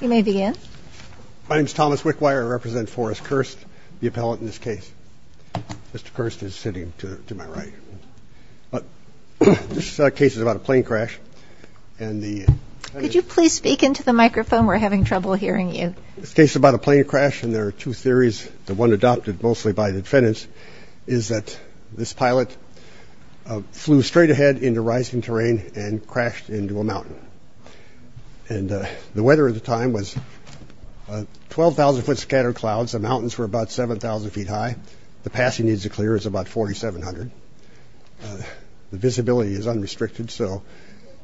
You may begin. My name is Thomas Wickwire. I represent Forrest Kirst, the appellate in this case. Mr. Kirst is sitting to my right. This case is about a plane crash. Could you please speak into the microphone? We're having trouble hearing you. This case is about a plane crash, and there are two theories. The one adopted mostly by the defendants is that this pilot flew straight ahead into rising terrain and crashed into a mountain. And the weather at the time was 12,000 foot scattered clouds. The mountains were about 7000 feet high. The passing needs to clear is about 4700. The visibility is unrestricted. So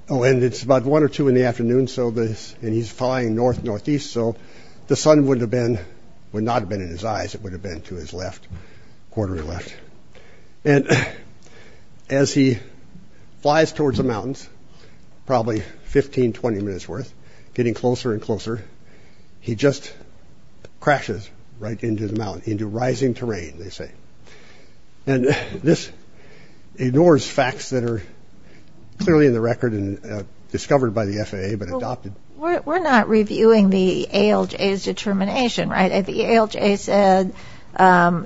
oh, and it's about one or two in the afternoon. So this and he's flying north, northeast. So the sun would have been would not have been in his eyes. It would have been to his left quarter left. And as he flies towards the mountains, probably 15, 20 minutes worth, getting closer and closer. He just crashes right into the mountain, into rising terrain, they say. And this ignores facts that are clearly in the record and discovered by the FAA, but adopted. We're not reviewing the ALJ's determination. Right. The ALJ said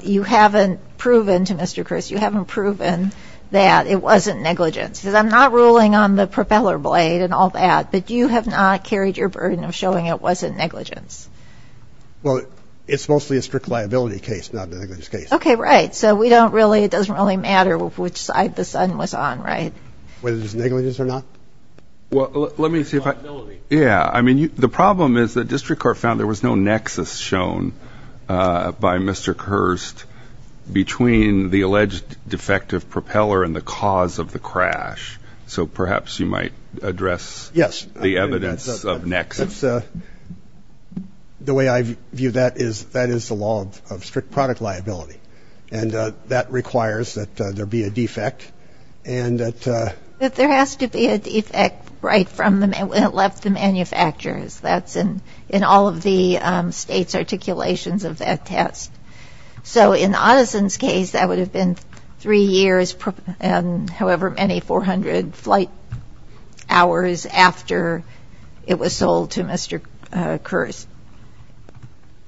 you haven't proven to Mr. Kirst, you haven't proven that it wasn't negligence. Because I'm not ruling on the propeller blade and all that. But you have not carried your burden of showing it wasn't negligence. Well, it's mostly a strict liability case, not negligence case. OK, right. So we don't really it doesn't really matter which side the sun was on. Right. Whether it's negligence or not. Well, let me see if I know. Yeah. I mean, the problem is the district court found there was no nexus shown by Mr. Kirst between the alleged defective propeller and the cause of the crash. So perhaps you might address. Yes. The evidence of nexus. The way I view that is that is the law of strict product liability. And that requires that there be a defect and that there has to be a defect right from the left. The manufacturers that's in in all of the state's articulations of that test. So in Addison's case, that would have been three years. And however many 400 flight hours after it was sold to Mr. Curse.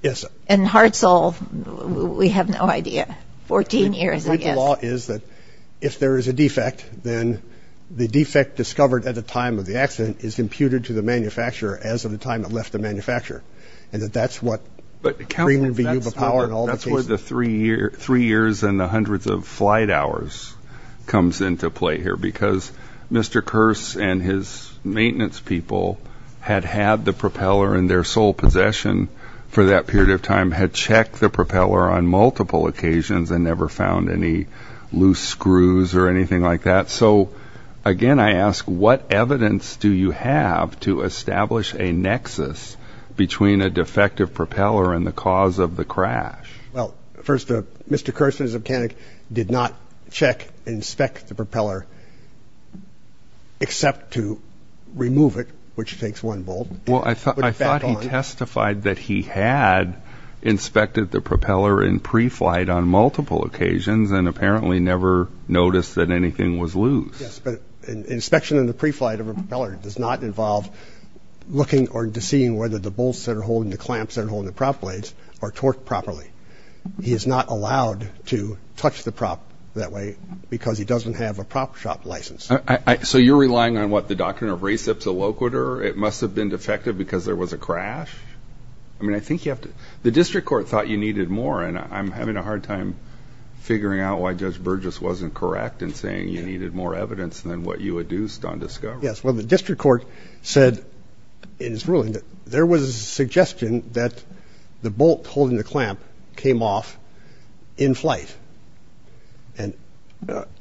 Yes. And Hartzell, we have no idea. 14 years ago is that if there is a defect, then the defect discovered at the time of the accident is computed to the manufacturer as of the time it left the manufacturer. And that that's what. But that's where the three year, three years and the hundreds of flight hours comes into play here because Mr. Curse and his maintenance people had had the propeller in their sole possession for that period of time, had checked the propeller on multiple occasions and never found any loose screws or anything like that. So, again, I ask, what evidence do you have to establish a nexus between a defective propeller and the cause of the crash? Well, first, Mr. Curse's mechanic did not check, inspect the propeller. Except to remove it, which takes one ball. Well, I thought I thought he testified that he had inspected the propeller in pre-flight on multiple occasions and apparently never noticed that anything was loose. Yes, but inspection in the pre-flight of a propeller does not involve looking or seeing whether the bolts that are holding the clamps that are holding the prop blades are torqued properly. He is not allowed to touch the prop that way because he doesn't have a prop shop license. So you're relying on what the doctrine of recip to locator. It must have been defective because there was a crash. I mean, I think you have to the district court thought you needed more. And I'm having a hard time figuring out why Judge Burgess wasn't correct in saying you needed more evidence than what you had used on discovery. Yes. Well, the district court said in his ruling that there was a suggestion that the bolt holding the clamp came off in flight. And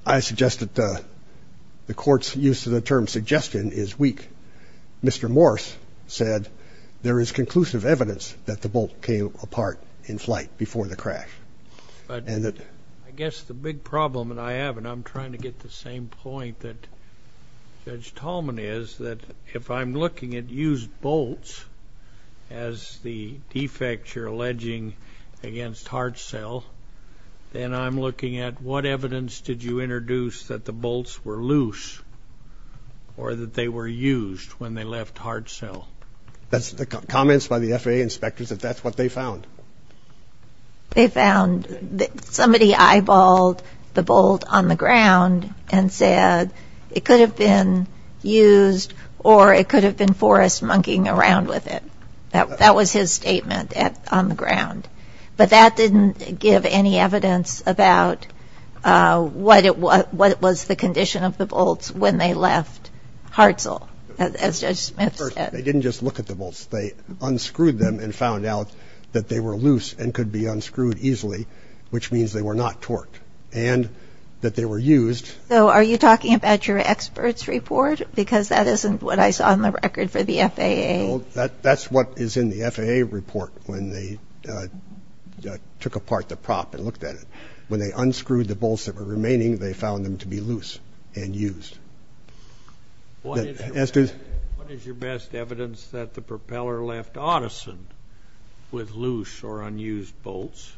I suggest that the court's use of the term suggestion is weak. Mr. Morse said there is conclusive evidence that the bolt came apart in flight before the crash. But I guess the big problem that I have, and I'm trying to get the same point that Judge Tallman is, that if I'm looking at used bolts as the defects you're alleging against heart cell, then I'm looking at what evidence did you introduce that the bolts were loose or that they were used when they left heart cell? That's the comments by the FAA inspectors that that's what they found. They found that somebody eyeballed the bolt on the ground and said it could have been used or it could have been forest monkeying around with it. That was his statement on the ground. But that didn't give any evidence about what was the condition of the bolts when they left heart cell, as Judge Smith said. They didn't just look at the bolts. They unscrewed them and found out that they were loose and could be unscrewed easily, which means they were not torqued and that they were used. So are you talking about your experts report? Because that isn't what I saw on the record for the FAA. Well, that's what is in the FAA report when they took apart the prop and looked at it. When they unscrewed the bolts that were remaining, they found them to be loose and used. What is your best evidence that the propeller left Audison with loose or unused bolts?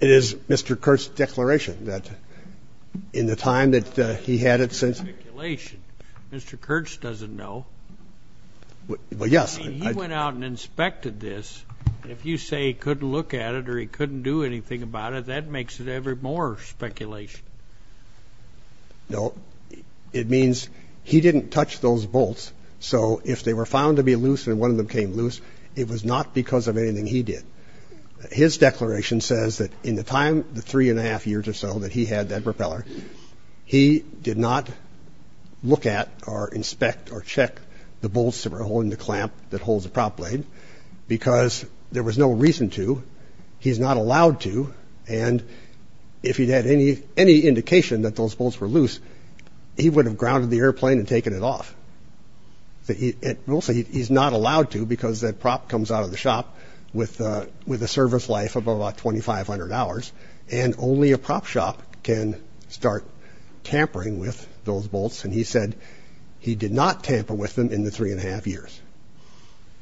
It is Mr. Kurtz's declaration that in the time that he had it since. Mr. Kurtz doesn't know. Well, yes. He went out and inspected this. If you say he couldn't look at it or he couldn't do anything about it, that makes it more speculation. No. It means he didn't touch those bolts. So if they were found to be loose and one of them came loose, it was not because of anything he did. His declaration says that in the time, the three and a half years or so that he had that propeller, he did not look at or inspect or check the bolts that were holding the clamp that holds the prop blade because there was no reason to. He's not allowed to. And if he had any indication that those bolts were loose, he would have grounded the airplane and taken it off. He's not allowed to because that prop comes out of the shop with a service life of about 2,500 hours, and only a prop shop can start tampering with those bolts. And he said he did not tamper with them in the three and a half years.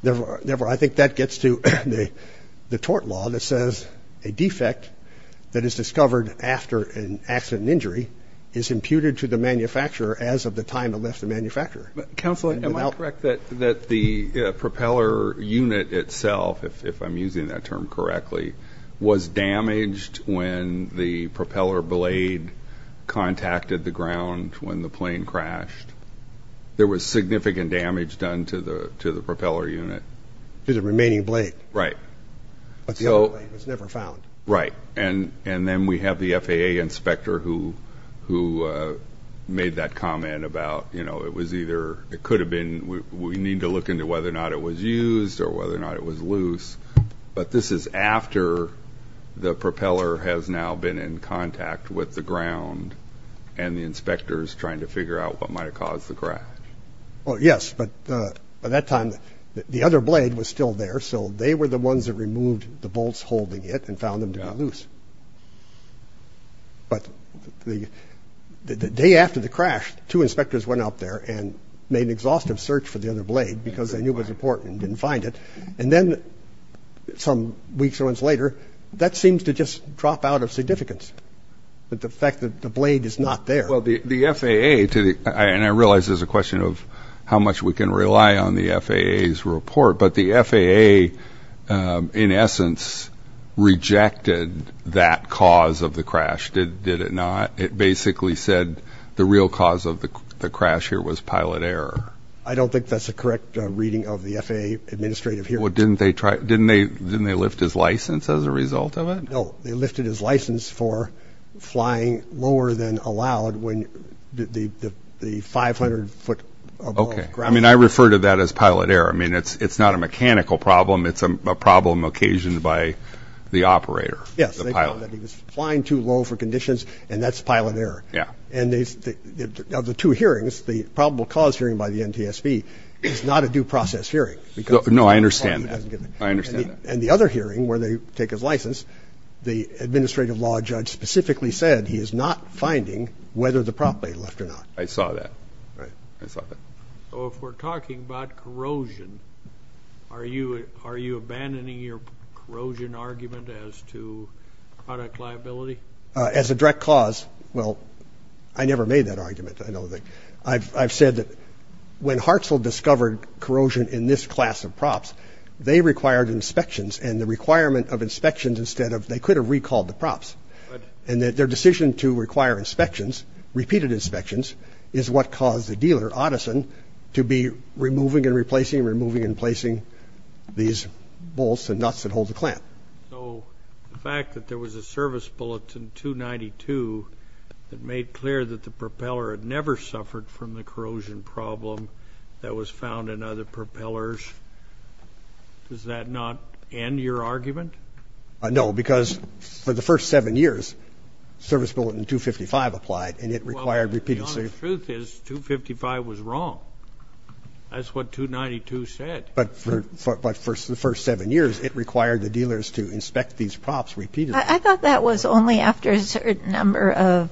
Therefore, I think that gets to the tort law that says a defect that is discovered after an accident and injury is imputed to the manufacturer as of the time it left the manufacturer. Counsel, am I correct that the propeller unit itself, if I'm using that term correctly, was damaged when the propeller blade contacted the ground when the plane crashed? There was significant damage done to the propeller unit. To the remaining blade. Right. But the other blade was never found. Right. And then we have the FAA inspector who made that comment about, you know, it was either, it could have been, we need to look into whether or not it was used or whether or not it was loose. But this is after the propeller has now been in contact with the ground and the inspector is trying to figure out what might have caused the crash. Oh, yes. But at that time, the other blade was still there, so they were the ones that removed the bolts holding it and found them to be loose. But the day after the crash, two inspectors went out there and made an exhaustive search for the other blade because they knew it was important and didn't find it. And then some weeks or months later, that seems to just drop out of significance, the fact that the blade is not there. Well, the FAA, and I realize this is a question of how much we can rely on the FAA's report, but the FAA, in essence, rejected that cause of the crash, did it not? It basically said the real cause of the crash here was pilot error. I don't think that's a correct reading of the FAA administrative here. Well, didn't they lift his license as a result of it? No, they lifted his license for flying lower than allowed when the 500-foot above ground. Okay. I mean, I refer to that as pilot error. I mean, it's not a mechanical problem. It's a problem occasioned by the operator, the pilot. Yes, they found that he was flying too low for conditions, and that's pilot error. Yeah. And of the two hearings, the probable cause hearing by the NTSB is not a due process hearing. No, I understand that. I understand that. And the other hearing where they take his license, the administrative law judge specifically said he is not finding whether the prop blade left or not. I saw that. I saw that. So if we're talking about corrosion, are you abandoning your corrosion argument as to product liability? As a direct cause, well, I never made that argument. I've said that when Hartzell discovered corrosion in this class of props, they required inspections, and the requirement of inspections instead of – they could have recalled the props, and their decision to require inspections, repeated inspections, is what caused the dealer, Otteson, to be removing and replacing, removing and placing these bolts and nuts that hold the clamp. So the fact that there was a service bulletin 292 that made clear that the propeller had never suffered from the corrosion problem that was found in other propellers, does that not end your argument? No, because for the first seven years, service bulletin 255 applied, and it required repeated – Well, the honest truth is 255 was wrong. That's what 292 said. But for the first seven years, it required the dealers to inspect these props repeatedly. I thought that was only after a certain number of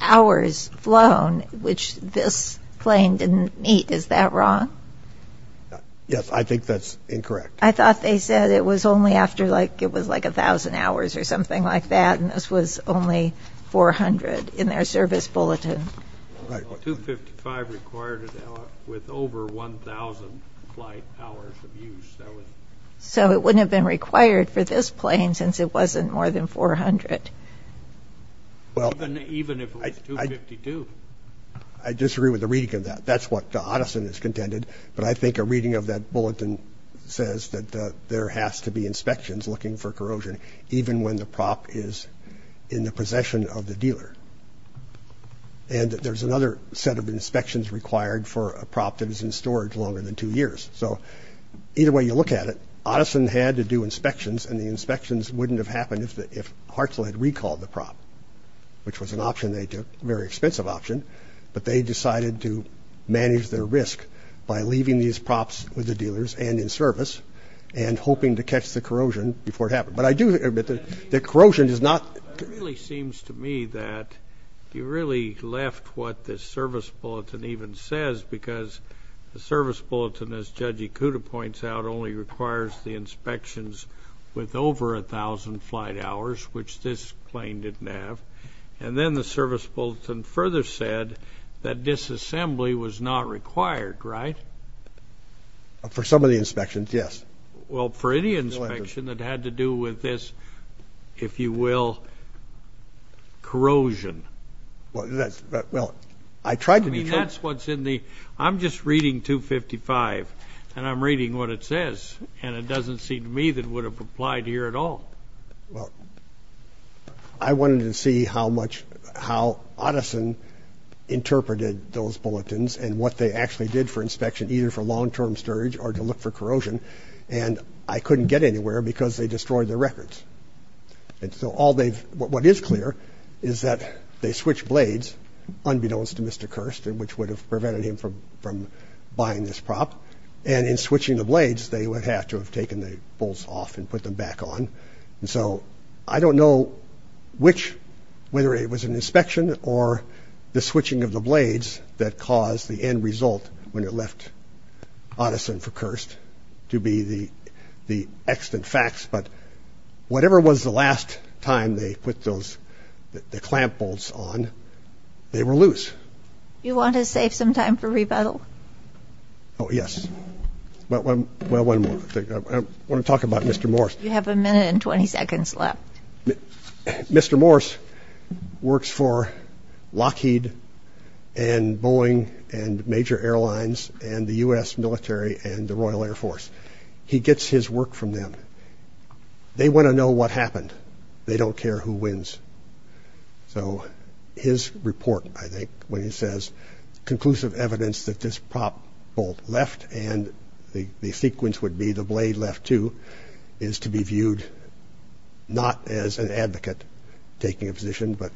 hours flown, which this claim didn't meet. Is that wrong? Yes, I think that's incorrect. I thought they said it was only after like – it was like 1,000 hours or something like that, and this was only 400 in their service bulletin. Right. Well, 255 required it with over 1,000 flight hours of use. So it wouldn't have been required for this plane since it wasn't more than 400. Even if it was 252. I disagree with the reading of that. That's what Otteson has contended. But I think a reading of that bulletin says that there has to be inspections looking for corrosion, even when the prop is in the possession of the dealer. And there's another set of inspections required for a prop that is in storage longer than two years. So either way you look at it, Otteson had to do inspections, and the inspections wouldn't have happened if Hartzell had recalled the prop, which was an option they took, a very expensive option. But they decided to manage their risk by leaving these props with the dealers and in service and hoping to catch the corrosion before it happened. But I do admit that corrosion is not – It really seems to me that you really left what this service bulletin even says because the service bulletin, as Judge Ikuda points out, only requires the inspections with over 1,000 flight hours, which this plane didn't have. And then the service bulletin further said that disassembly was not required, right? For some of the inspections, yes. Well, for any inspection that had to do with this, if you will, corrosion. Well, that's – well, I tried to – I mean, that's what's in the – I'm just reading 255, and I'm reading what it says, and it doesn't seem to me that it would have applied here at all. Well, I wanted to see how much – how Otteson interpreted those bulletins and what they actually did for inspection, either for long-term storage or to look for corrosion. And I couldn't get anywhere because they destroyed their records. And so all they've – what is clear is that they switched blades, unbeknownst to Mr. Kirst, which would have prevented him from buying this prop. And in switching the blades, they would have to have taken the bolts off and put them back on. And so I don't know which – whether it was an inspection or the switching of the blades that caused the end result when it left Otteson for Kirst to be the extant facts, but whatever was the last time they put those – the clamp bolts on, they were loose. You want to save some time for rebuttal? Oh, yes. Well, one more thing. I want to talk about Mr. Morse. You have a minute and 20 seconds left. Mr. Morse works for Lockheed and Boeing and major airlines and the U.S. military and the Royal Air Force. He gets his work from them. They want to know what happened. They don't care who wins. So his report, I think, when he says conclusive evidence that this prop bolt left and the sequence would be the blade left, too, is to be viewed not as an advocate taking a position but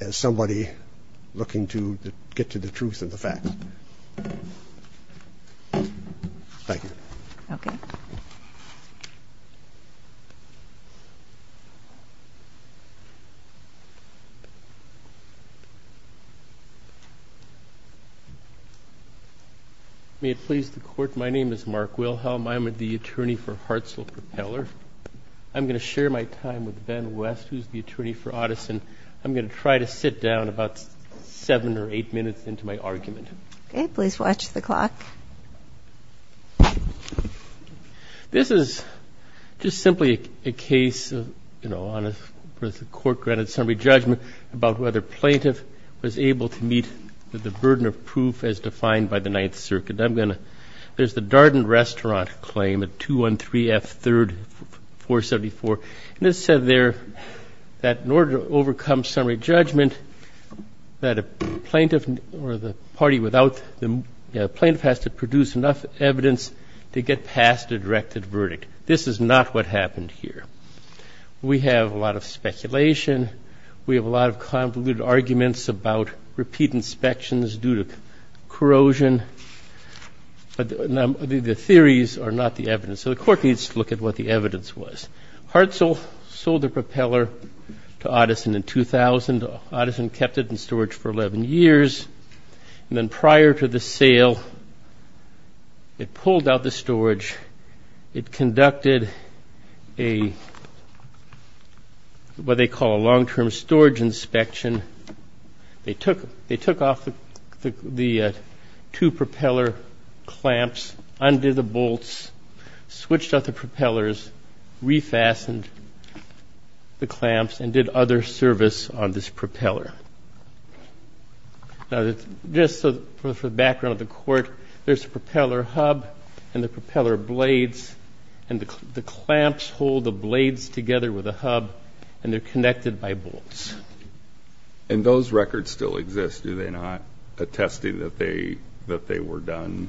as somebody looking to get to the truth and the facts. Thank you. Okay. Thank you. May it please the Court, my name is Mark Wilhelm. I'm the attorney for Hartzell Propeller. I'm going to share my time with Ben West, who's the attorney for Otteson. I'm going to try to sit down about seven or eight minutes into my argument. Okay. Please watch the clock. This is just simply a case of, you know, on a court-granted summary judgment about whether a plaintiff was able to meet the burden of proof as defined by the Ninth Circuit. I'm going to ñ there's the Darden Restaurant claim at 213 F. 3rd, 474. And it's said there that in order to overcome summary judgment that a plaintiff or the party without the plaintiff has to produce enough evidence to get past a directed verdict. This is not what happened here. We have a lot of speculation. We have a lot of convoluted arguments about repeat inspections due to corrosion. The theories are not the evidence, so the Court needs to look at what the evidence was. Hartzell sold the propeller to Otteson in 2000. And Otteson kept it in storage for 11 years. And then prior to the sale, it pulled out the storage. It conducted a ñ what they call a long-term storage inspection. They took off the two propeller clamps under the bolts, switched out the propellers, refastened the clamps, and did other service on this propeller. Now, just for the background of the Court, there's a propeller hub and the propeller blades. And the clamps hold the blades together with the hub, and they're connected by bolts. And those records still exist, do they not, attesting that they were done?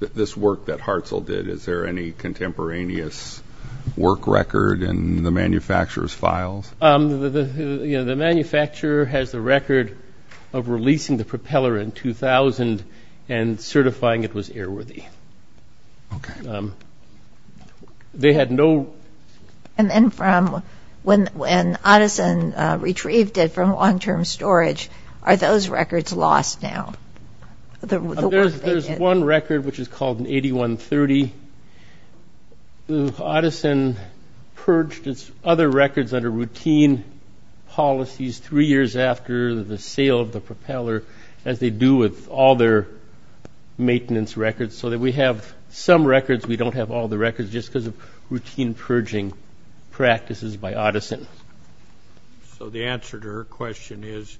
This work that Hartzell did, is there any contemporaneous work record in the manufacturer's files? The manufacturer has the record of releasing the propeller in 2000 and certifying it was airworthy. Okay. They had no ñ And then from when Otteson retrieved it from long-term storage, are those records lost now? There's one record, which is called an 8130. Otteson purged its other records under routine policies three years after the sale of the propeller, as they do with all their maintenance records, so that we have some records. We don't have all the records just because of routine purging practices by Otteson. So the answer to her question is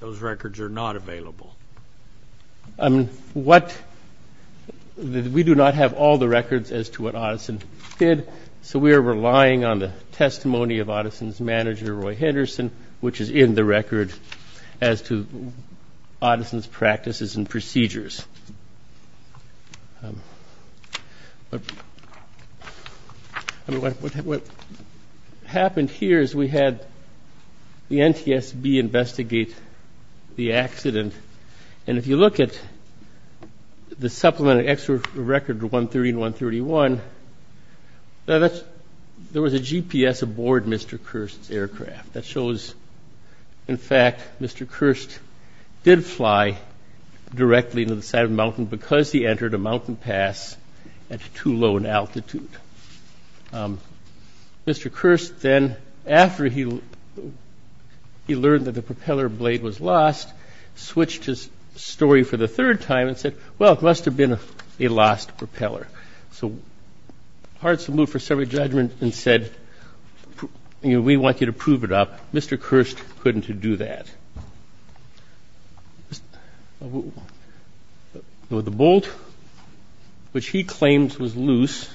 those records are not available. What ñ we do not have all the records as to what Otteson did, so we are relying on the testimony of Otteson's manager, Roy Henderson, which is in the record as to Otteson's practices and procedures. What happened here is we had the NTSB investigate the accident, and if you look at the supplementary extra record, the 130 and 131, there was a GPS aboard Mr. Kirst's aircraft. That shows, in fact, Mr. Kirst did fly directly to the side of the mountain because he entered a mountain pass at too low an altitude. Mr. Kirst then, after he learned that the propeller blade was lost, switched his story for the third time and said, well, it must have been a lost propeller. So Hartzell moved for severed judgment and said, you know, we want you to prove it up. Mr. Kirst couldn't do that. The bolt, which he claims was loose,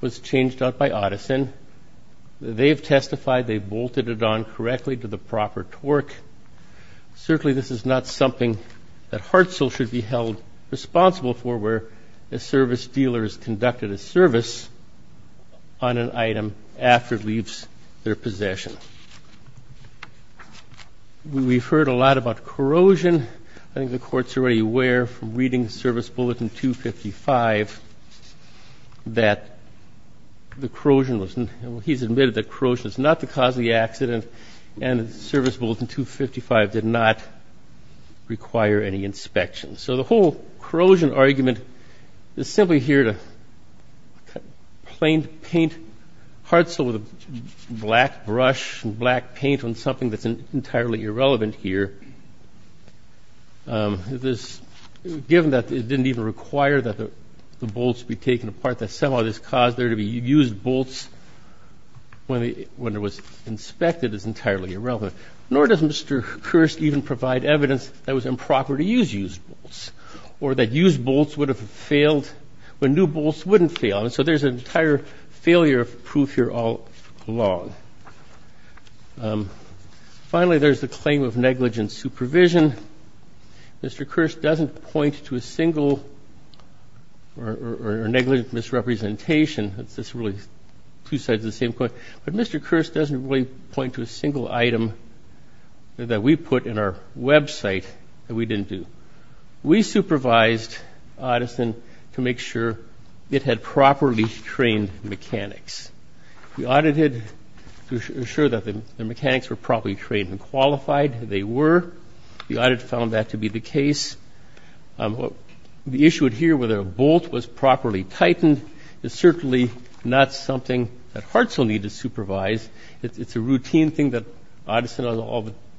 was changed out by Otteson. They have testified they bolted it on correctly to the proper torque. Certainly this is not something that Hartzell should be held responsible for where a service dealer has conducted a service on an item after it leaves their possession. We've heard a lot about corrosion. I think the Court's already aware from reading Service Bulletin 255 that the corrosion was ñ well, he's admitted that corrosion is not the cause of the accident, and Service Bulletin 255 did not require any inspection. So the whole corrosion argument is simply here to plain paint Hartzell with a black brush and black paint on something that's entirely irrelevant here. Given that it didn't even require that the bolts be taken apart, that somehow this caused there to be used bolts when it was inspected is entirely irrelevant. Nor does Mr. Kirst even provide evidence that it was improper to use used bolts or that used bolts would have failed when new bolts wouldn't fail. And so there's an entire failure of proof here all along. Finally, there's the claim of negligent supervision. Mr. Kirst doesn't point to a single or negligent misrepresentation. It's really two sides of the same coin. But Mr. Kirst doesn't really point to a single item that we put in our website that we didn't do. We supervised Edison to make sure it had properly trained mechanics. We audited to assure that the mechanics were properly trained and qualified. They were. The audit found that to be the case. The issue here, whether a bolt was properly tightened, is certainly not something that Hartzell needed to supervise. It's a routine thing that Edison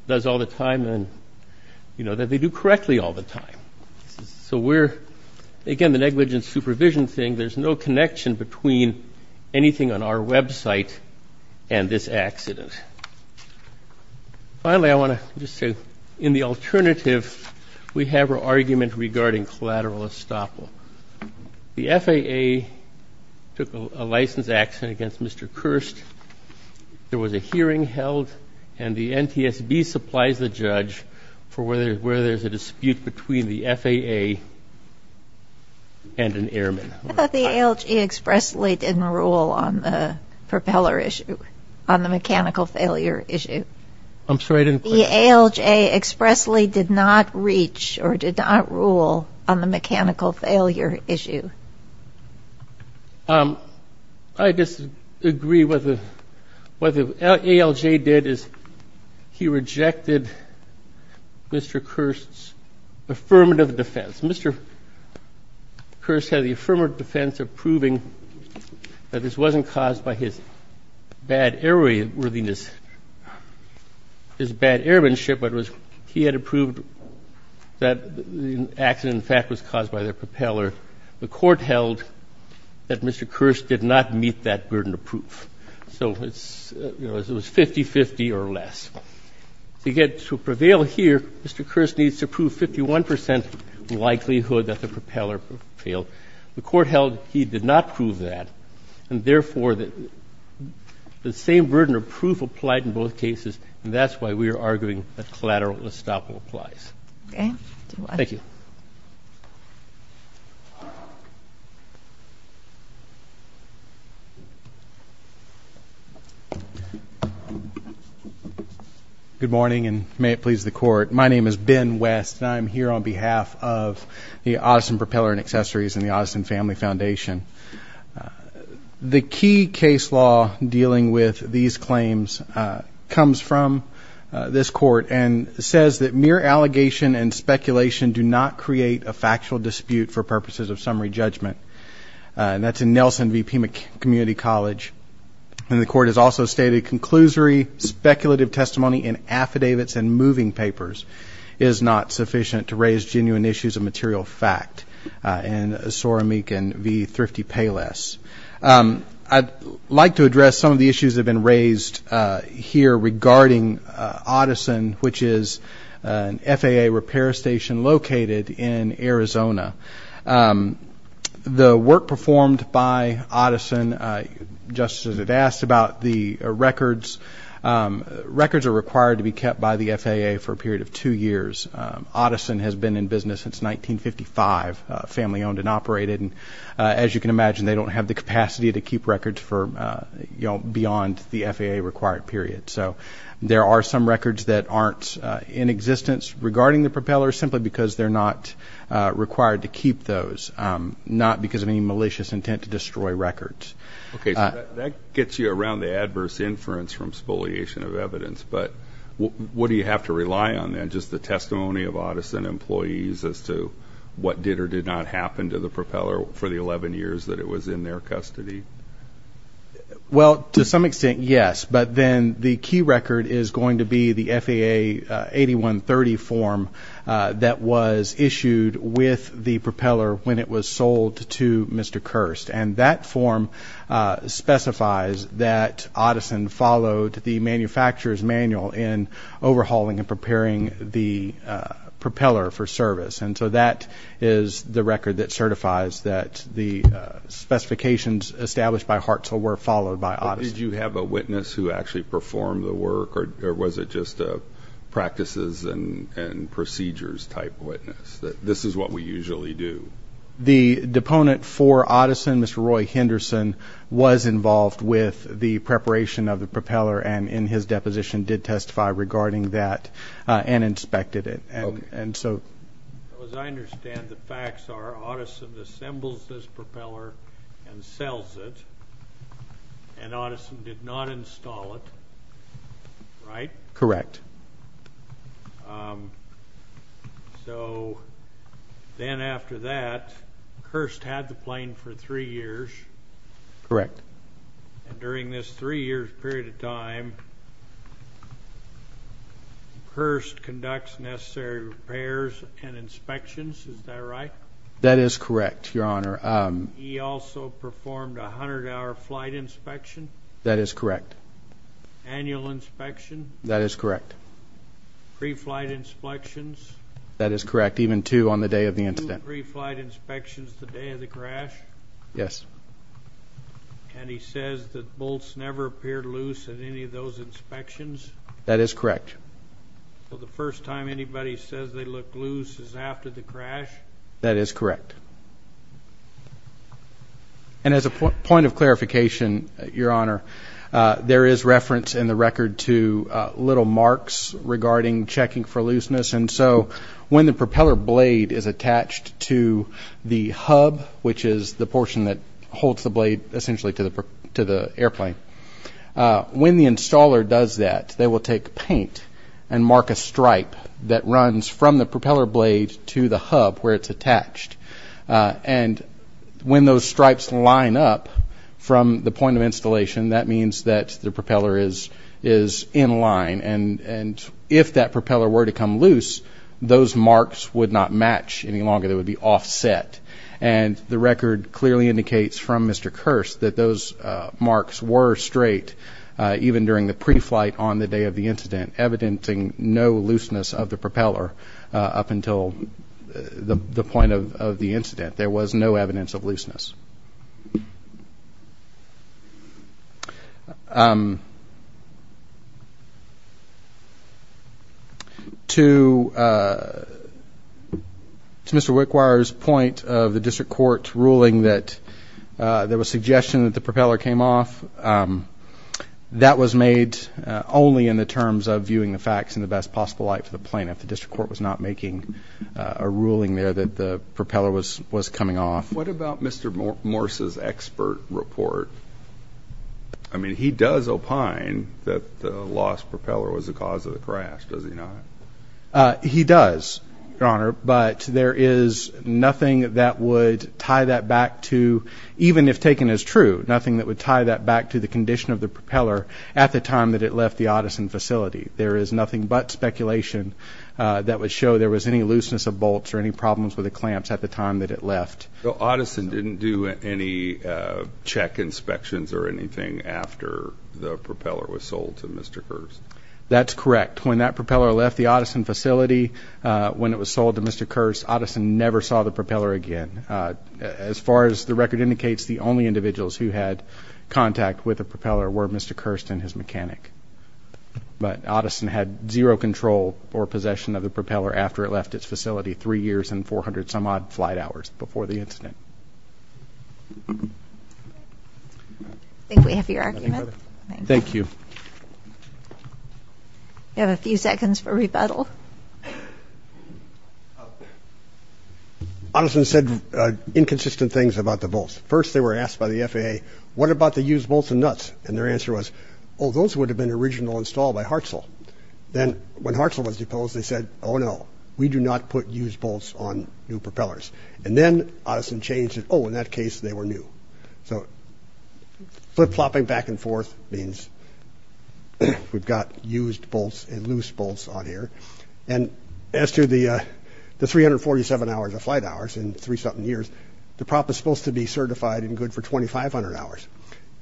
does all the time and, you know, that they do correctly all the time. So we're, again, the negligent supervision thing. There's no connection between anything on our website and this accident. Finally, I want to just say in the alternative, we have our argument regarding collateral estoppel. The FAA took a license accident against Mr. Kirst. There was a hearing held, and the NTSB supplies the judge for where there's a dispute between the FAA and an airman. I thought the ALJ expressly didn't rule on the propeller issue, on the mechanical failure issue. I'm sorry. The ALJ expressly did not reach or did not rule on the mechanical failure issue. I disagree with what the ALJ did is he rejected Mr. Kirst's affirmative defense. Mr. Kirst had the affirmative defense of proving that this wasn't caused by his bad airworthiness, his bad airmanship, but he had approved that the accident, in fact, was caused by the propeller. The court held that Mr. Kirst did not meet that burden of proof. So it's, you know, it was 50-50 or less. To get to prevail here, Mr. Kirst needs to prove 51 percent likelihood that the propeller failed. The court held he did not prove that, and therefore the same burden of proof applied in both cases, and that's why we are arguing that collateral estoppel applies. Thank you. Thank you. Good morning, and may it please the Court. My name is Ben West, and I'm here on behalf of the Otterson Propeller and Accessories and the Otterson Family Foundation. The key case law dealing with these claims comes from this court and says that mere allegation and speculation do not create a factual dispute for purposes of summary judgment. And that's in Nelson v. Pima Community College. And the court has also stated, conclusory speculative testimony in affidavits and moving papers is not sufficient to raise genuine issues of material fact. And Sorameek and V. Thrifty Payless. I'd like to address some of the issues that have been raised here regarding Otterson, which is an FAA repair station located in Arizona. The work performed by Otterson, just as it asked about the records, records are required to be kept by the FAA for a period of two years. Otterson has been in business since 1955, family owned and operated. And as you can imagine, they don't have the capacity to keep records beyond the FAA required period. So there are some records that aren't in existence regarding the propellers simply because they're not required to keep those, not because of any malicious intent to destroy records. Okay, so that gets you around the adverse inference from spoliation of evidence. But what do you have to rely on then? Just the testimony of Otterson employees as to what did or did not happen to the propeller for the 11 years that it was in their custody? Well, to some extent, yes. But then the key record is going to be the FAA 8130 form that was issued with the propeller when it was sold to Mr. Kirst. And that form specifies that Otterson followed the manufacturer's manual in overhauling and preparing the propeller for service. And so that is the record that certifies that the specifications established by Hartzell were followed by Otterson. Did you have a witness who actually performed the work, or was it just a practices and procedures type witness, that this is what we usually do? The deponent for Otterson, Mr. Roy Henderson, was involved with the preparation of the propeller and in his deposition did testify regarding that and inspected it. As I understand, the facts are Otterson assembles this propeller and sells it, and Otterson did not install it, right? Correct. So then after that, Kirst had the plane for three years. Correct. And during this three-year period of time, Kirst conducts necessary repairs and inspections, is that right? That is correct, Your Honor. He also performed a 100-hour flight inspection? That is correct. Annual inspection? That is correct. Pre-flight inspections? That is correct, even two on the day of the incident. Two pre-flight inspections the day of the crash? Yes. And he says that bolts never appeared loose at any of those inspections? That is correct. So the first time anybody says they looked loose is after the crash? That is correct. And as a point of clarification, Your Honor, there is reference in the record to little marks regarding checking for looseness, and so when the propeller blade is attached to the hub, which is the portion that holds the blade essentially to the airplane, when the installer does that, they will take paint and mark a stripe that runs from the propeller blade to the hub where it's attached. And when those stripes line up from the point of installation, that means that the propeller is in line. And if that propeller were to come loose, those marks would not match any longer. They would be offset. And the record clearly indicates from Mr. Kearse that those marks were straight, even during the pre-flight on the day of the incident, evidenting no looseness of the propeller up until the point of the incident. There was no evidence of looseness. To Mr. Wickwire's point of the district court ruling that there was suggestion that the propeller came off, that was made only in the terms of viewing the facts in the best possible light for the plaintiff. The district court was not making a ruling there that the propeller was coming off. What about Mr. Morse's expert report? I mean, he does opine that the lost propeller was the cause of the crash, does he not? He does, Your Honor, but there is nothing that would tie that back to, even if taken as true, nothing that would tie that back to the condition of the propeller at the time that it left the Otterson facility. There is nothing but speculation that would show there was any looseness of bolts or any problems with the clamps at the time that it left. So Otterson didn't do any check inspections or anything after the propeller was sold to Mr. Kearse? That's correct. When that propeller left the Otterson facility, when it was sold to Mr. Kearse, Otterson never saw the propeller again. As far as the record indicates, the only individuals who had contact with the propeller were Mr. Kearse and his mechanic. But Otterson had zero control or possession of the propeller after it left its facility three years and 400-some-odd flight hours before the incident. I think we have your argument. Thank you. We have a few seconds for rebuttal. Otterson said inconsistent things about the bolts. First they were asked by the FAA, what about the used bolts and nuts? And their answer was, oh, those would have been original installed by Hartzell. Then when Hartzell was deposed, they said, oh, no, we do not put used bolts on new propellers. And then Otterson changed it. Oh, in that case, they were new. So flip-flopping back and forth means we've got used bolts and loose bolts on here. And as to the 347 hours of flight hours in three-something years, the prop is supposed to be certified and good for 2,500 hours.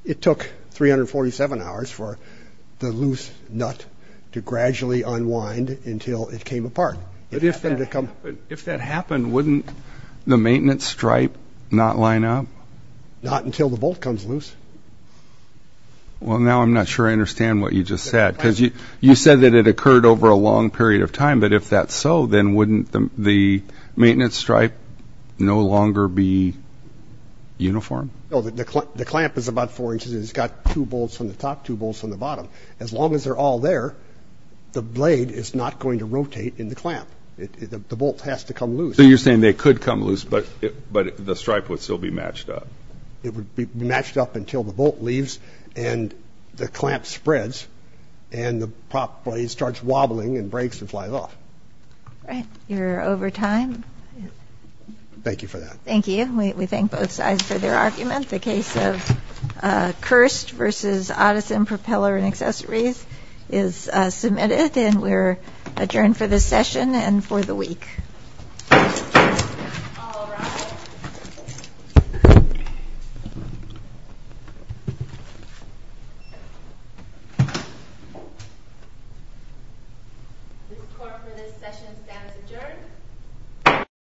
It took 347 hours for the loose nut to gradually unwind until it came apart. But if that happened, wouldn't the maintenance stripe not line up? Not until the bolt comes loose. Well, now I'm not sure I understand what you just said. Because you said that it occurred over a long period of time. But if that's so, then wouldn't the maintenance stripe no longer be uniform? No, the clamp is about four inches. It's got two bolts on the top, two bolts on the bottom. As long as they're all there, the blade is not going to rotate in the clamp. The bolt has to come loose. So you're saying they could come loose, but the stripe would still be matched up. It would be matched up until the bolt leaves and the clamp spreads and the prop blade starts wobbling and breaks and flies off. All right. You're over time. Thank you for that. Thank you. We thank both sides for their argument. The case of Kerst v. Otteson Propeller and Accessories is submitted. And we're adjourned for this session and for the week. All rise. This court for this session stands adjourned.